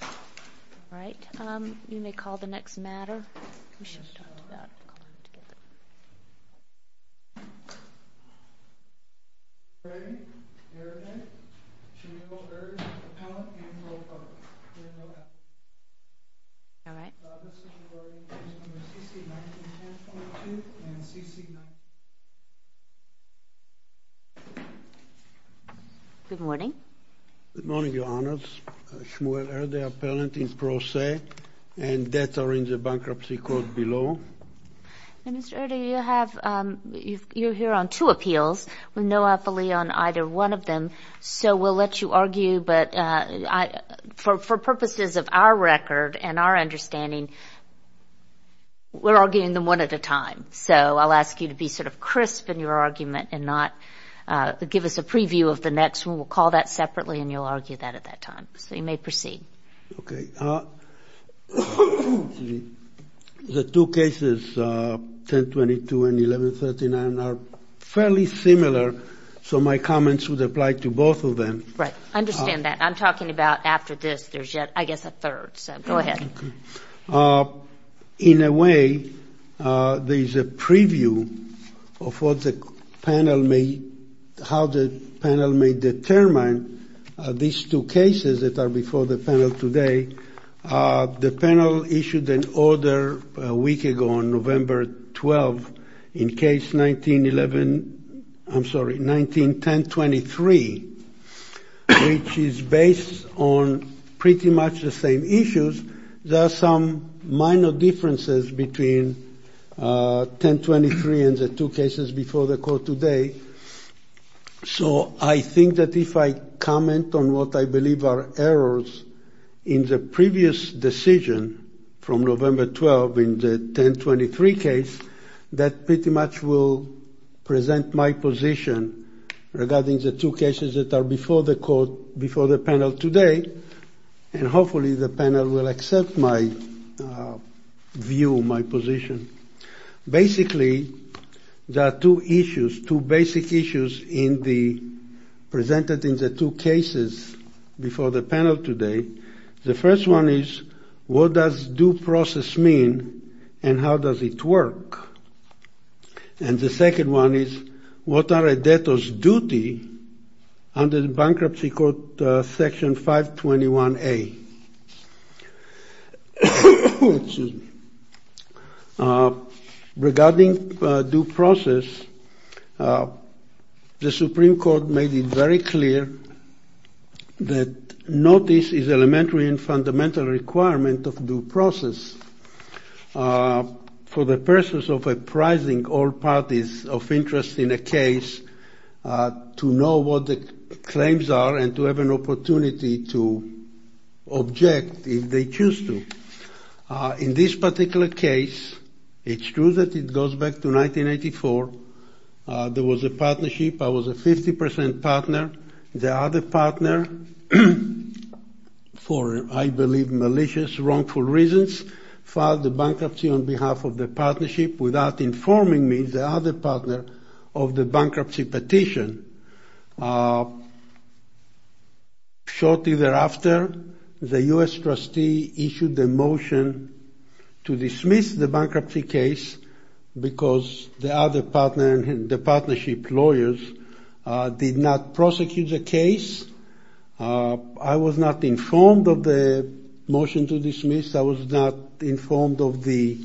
All right. You may call the next matter. We should have talked about calling together. All right. Good morning. Good morning, Your Honors. Shmuel Erde, appellant in pro se, and debts are in the bankruptcy court below. Mr. Erde, you're here on two appeals with no appellee on either one of them, so we'll let you argue, but for purposes of our record and our understanding, we're arguing them one at a time. So I'll ask you to be sort of crisp in your argument and not give us a preview of the next one. We'll call that separately, and you'll argue that at that time. So you may proceed. Okay. The two cases, 1022 and 1139, are fairly similar, so my comments would apply to both of them. Right. I understand that. I'm talking about after this, there's yet, I guess, a third. So go ahead. In a way, there's a preview of what the panel may, how the panel may determine these two cases that are before the panel today. The panel issued an order a week ago on November 12th in case 1911, I'm sorry, 1910-23, which is based on pretty much the same issues. There are some minor differences between 1023 and the two cases before the court today. So I think that if I comment on what I believe are errors in the previous decision from November 12th in the 1023 case, that pretty much will present my position regarding the two cases that are before the court, before the panel today, and hopefully the panel will accept my view, my position. Basically, there are two issues, two basic issues in the, presented in the two cases before the panel today. The first one is, what does due process mean and how does it work? And the second one is, what are a debtor's duty under the Bankruptcy Code Section 521A? Excuse me. Regarding due process, the Supreme Court made it very clear that notice is elementary and fundamental requirement of due process. For the purposes of apprising all parties of interest in a case to know what the claims are and to have an opportunity to object if they choose to. In this particular case, it's true that it goes back to 1984. There was a partnership. I was a 50 percent partner. The other partner, for I believe malicious, wrongful reasons, filed the bankruptcy on behalf of the partnership without informing me, the other partner, of the bankruptcy petition. Shortly thereafter, the U.S. trustee issued a motion to dismiss the bankruptcy case because the other partner and the partnership lawyers did not prosecute the case. I was not informed of the motion to dismiss. I was not informed of the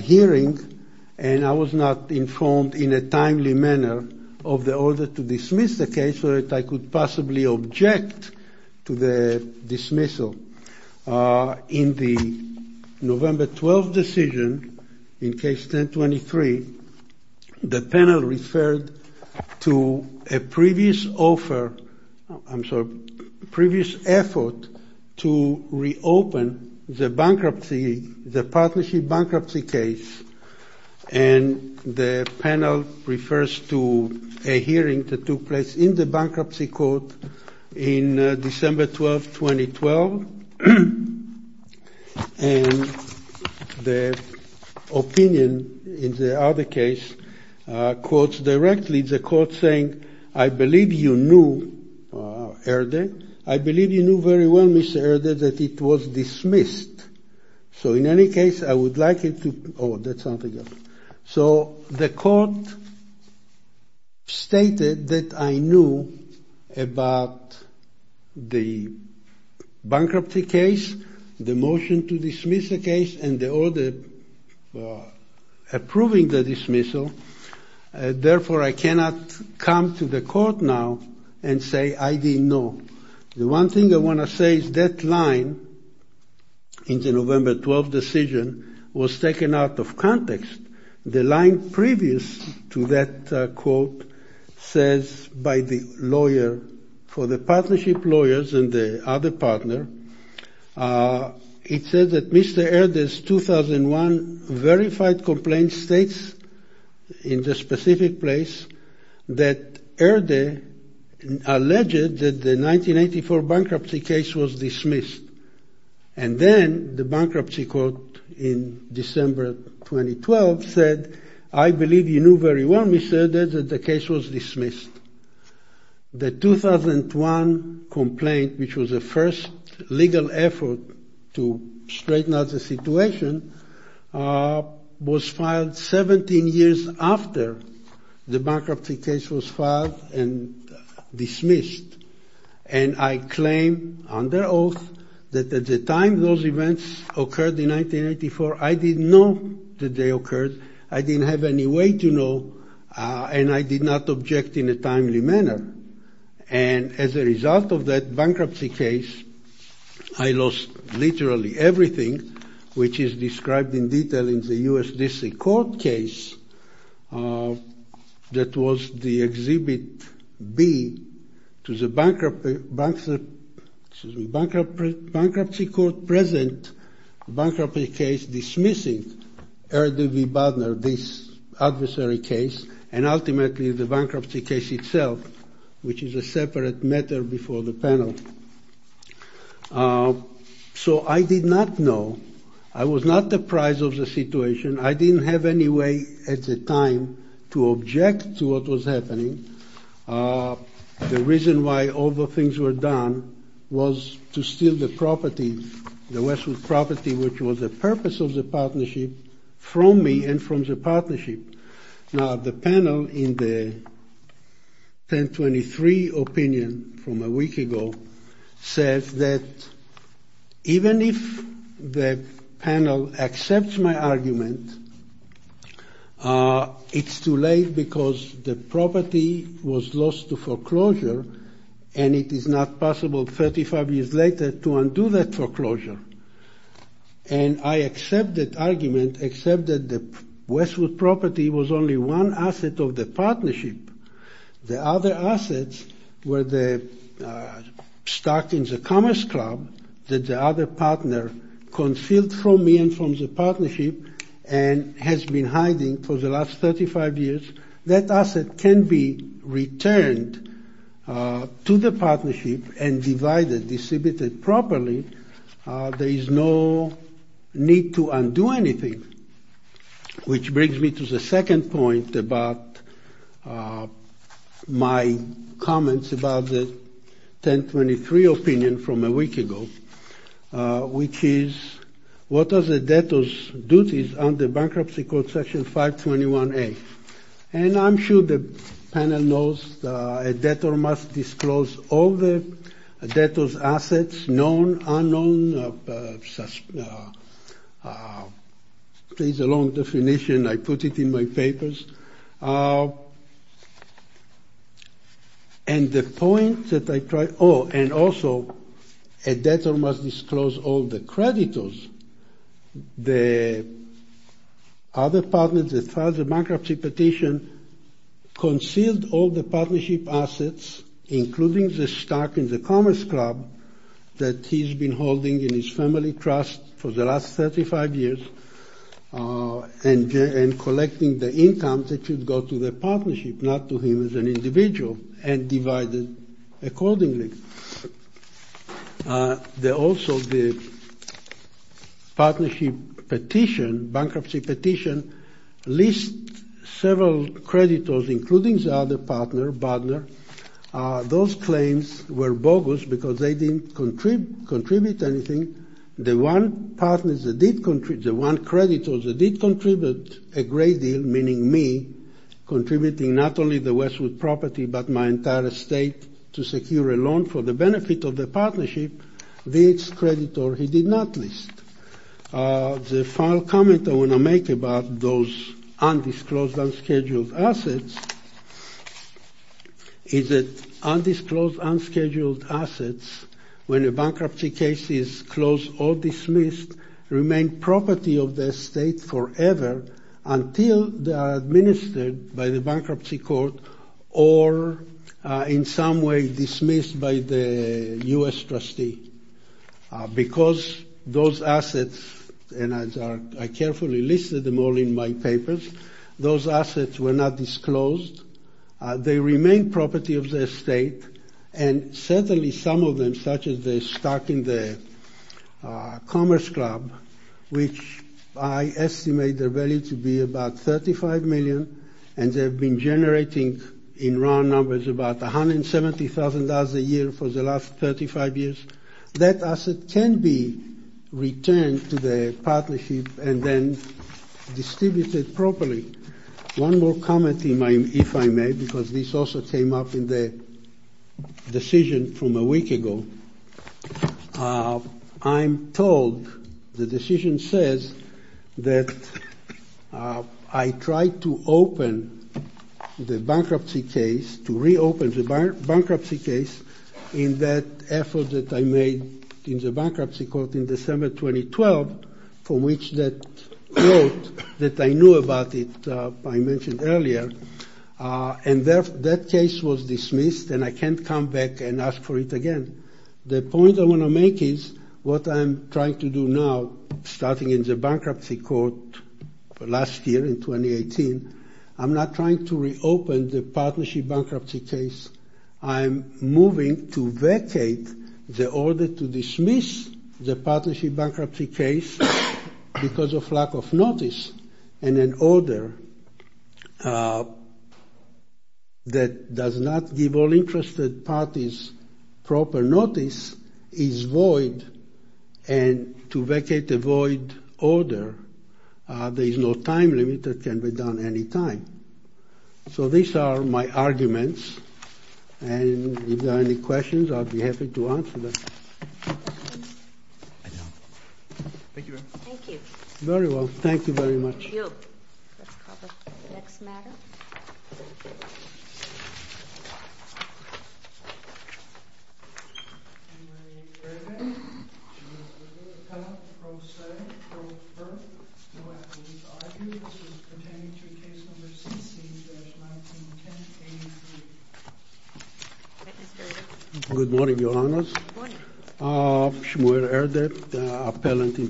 hearing. And I was not informed in a timely manner of the order to dismiss the case so that I could possibly object to the dismissal. In the November 12 decision, in case 1023, the panel referred to a previous offer, I'm sorry, previous effort to reopen the bankruptcy, the partnership bankruptcy case. And the panel refers to a hearing that took place in the bankruptcy court in December 12, 2012. And the opinion in the other case quotes directly the court saying, I believe you knew, Herder, I believe you knew very well, Mr. Herder, that it was dismissed. So in any case, I would like it to. Oh, that's something else. So the court stated that I knew about the bankruptcy case, the motion to dismiss the case and the order approving the dismissal. Therefore, I cannot come to the court now and say I didn't know. The one thing I want to say is that line in the November 12 decision was taken out of context. The line previous to that quote says by the lawyer for the partnership lawyers and the other partner, it says that Mr. Herder's 2001 verified complaint states in the specific place that Herder alleged that the 1984 bankruptcy case was dismissed. And then the bankruptcy court in December 2012 said, I believe you knew very well, Mr. Herder, that the case was dismissed. The 2001 complaint, which was the first legal effort to straighten out the situation, was filed 17 years after the bankruptcy case was filed and dismissed. And I claim under oath that at the time those events occurred in 1984, I didn't know that they occurred. I didn't have any way to know. And I did not object in a timely manner. And as a result of that bankruptcy case, I lost literally everything, which is described in detail in the U.S. District Court case. That was the exhibit B to the bankruptcy court present bankruptcy case dismissing Herder v. which is a separate matter before the panel. So I did not know. I was not the prize of the situation. I didn't have any way at the time to object to what was happening. The reason why all the things were done was to steal the property, the Westwood property, which was the purpose of the partnership from me and from the partnership. Now, the panel in the 1023 opinion from a week ago says that even if the panel accepts my argument, it's too late because the property was lost to foreclosure. And it is not possible 35 years later to undo that foreclosure. And I accept that argument, except that the Westwood property was only one asset of the partnership. The other assets were the stockings, a commerce club that the other partner concealed from me and from the partnership and has been hiding for the last 35 years. That asset can be returned to the partnership and divided, distributed properly. There is no need to undo anything. Which brings me to the second point about my comments about the 1023 opinion from a week ago, which is what does a debtor's duties on the bankruptcy court section 521A. And I'm sure the panel knows a debtor must disclose all the debtor's assets, known, unknown. It's a long definition. I put it in my papers. And the point that I try. Oh, and also a debtor must disclose all the creditors. The other partners that filed the bankruptcy petition concealed all the partnership assets, including the stock in the commerce club that he's been holding in his family trust for the last 35 years. And collecting the income that should go to the partnership, not to him as an individual and divided accordingly. Also the partnership petition, bankruptcy petition, lists several creditors, including the other partner, but those claims were bogus because they didn't contribute anything. The one partners that did contribute, the one creditors that did contribute a great deal, meaning me, contributing not only the Westwood property but my entire estate to secure a loan for the benefit of the partnership, this creditor he did not list. The final comment I want to make about those undisclosed, unscheduled assets is that undisclosed, unscheduled assets, when a bankruptcy case is closed or dismissed, remain property of the state forever until they are administered by the bankruptcy court or in some way dismissed by the U.S. trustee because those assets, and I carefully listed them all in my papers, those assets were not disclosed. They remain property of the state and certainly some of them, such as the stock in the Commerce Club, which I estimate the value to be about $35 million and they've been generating in round numbers about $170,000 a year for the last 35 years. That asset can be returned to the partnership and then distributed properly. One more comment, if I may, because this also came up in the decision from a week ago. I'm told the decision says that I tried to open the bankruptcy case, to reopen the bankruptcy case in that effort that I made in the bankruptcy court in December 2012, from which that quote that I knew about it, I mentioned earlier, and that case was dismissed and I can't come back and ask for it again. The point I want to make is what I'm trying to do now, starting in the bankruptcy court last year in 2018, I'm not trying to reopen the partnership bankruptcy case. I'm moving to vacate the order to dismiss the partnership bankruptcy case because of lack of notice and an order that does not give all interested parties proper notice is void and to vacate the void order, there is no time limit that can be done any time. So these are my arguments and if there are any questions, I'll be happy to answer them. Thank you very much. Thank you. Let's cover the next matter. Good morning, Your Honors. Good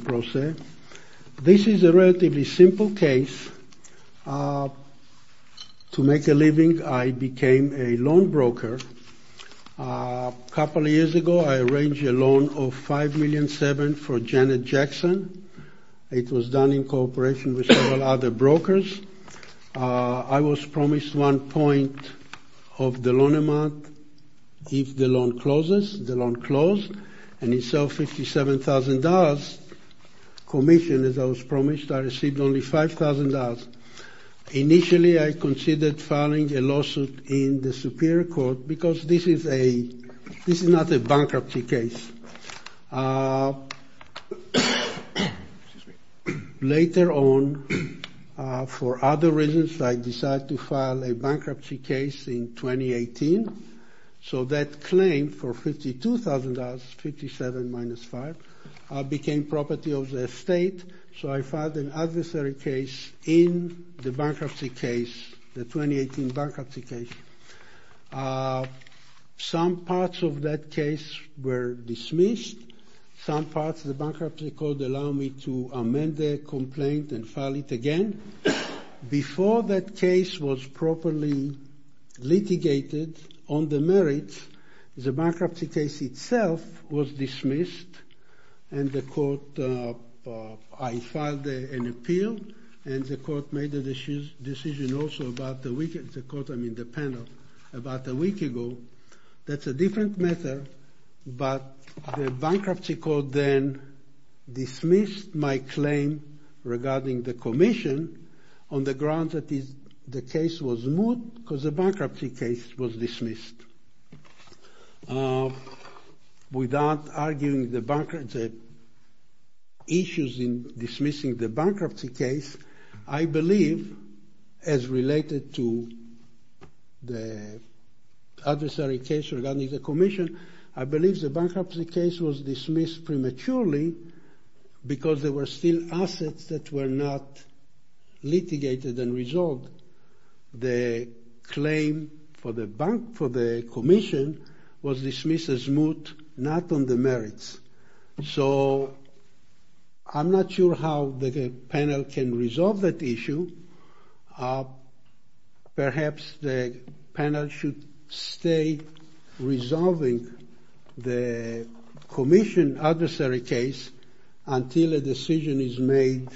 morning. This is a relatively simple case. To make a living, I became a loan broker. A couple of years ago, I arranged a loan of $5.7 million for Janet Jackson. It was done in cooperation with several other brokers. I was promised one point of the loan amount if the loan closes. The loan closed and it sold $57,000 commission. As I was promised, I received only $5,000. Initially, I considered filing a lawsuit in the Superior Court because this is not a bankruptcy case. Later on, for other reasons, I decided to file a bankruptcy case in 2018. So that claim for $52,000, 57 minus 5, became property of the state. So I filed an adversary case in the bankruptcy case, the 2018 bankruptcy case. Some parts of that case were dismissed. Some parts of the bankruptcy court allowed me to amend the complaint and file it again. Before that case was properly litigated on the merits, the bankruptcy case itself was dismissed. I filed an appeal and the court made a decision about a week ago. That's a different matter, but the bankruptcy court then dismissed my claim regarding the commission on the grounds that the case was moot because the bankruptcy case was dismissed. Without arguing the issues in dismissing the bankruptcy case, I believe as related to the adversary case regarding the commission, I believe the bankruptcy case was dismissed prematurely because there were still assets that were not litigated and resolved. The claim for the commission was dismissed as moot, not on the merits. So I'm not sure how the panel can resolve that issue. Perhaps the panel should stay resolving the commission adversary case until a decision is made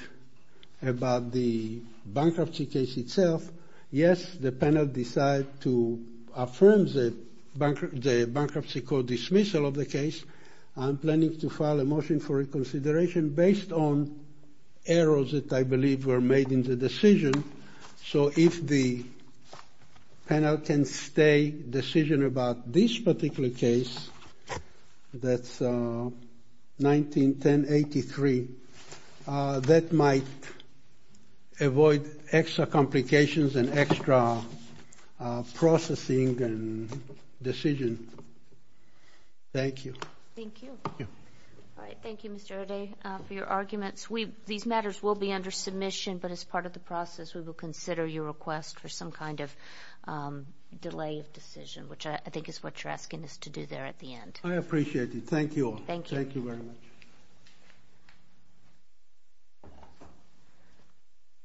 about the bankruptcy case itself. Yes, the panel decided to affirm the bankruptcy court dismissal of the case. I'm planning to file a motion for reconsideration based on errors that I believe were made in the decision. So if the panel can stay decision about this particular case, that's 191083, that might avoid extra complications and extra processing and decision. Thank you. Thank you. Thank you. All right, thank you, Mr. O'Day, for your arguments. These matters will be under submission, but as part of the process we will consider your request for some kind of delay of decision, which I think is what you're asking us to do there at the end. I appreciate it. Thank you all. Thank you. Thank you very much.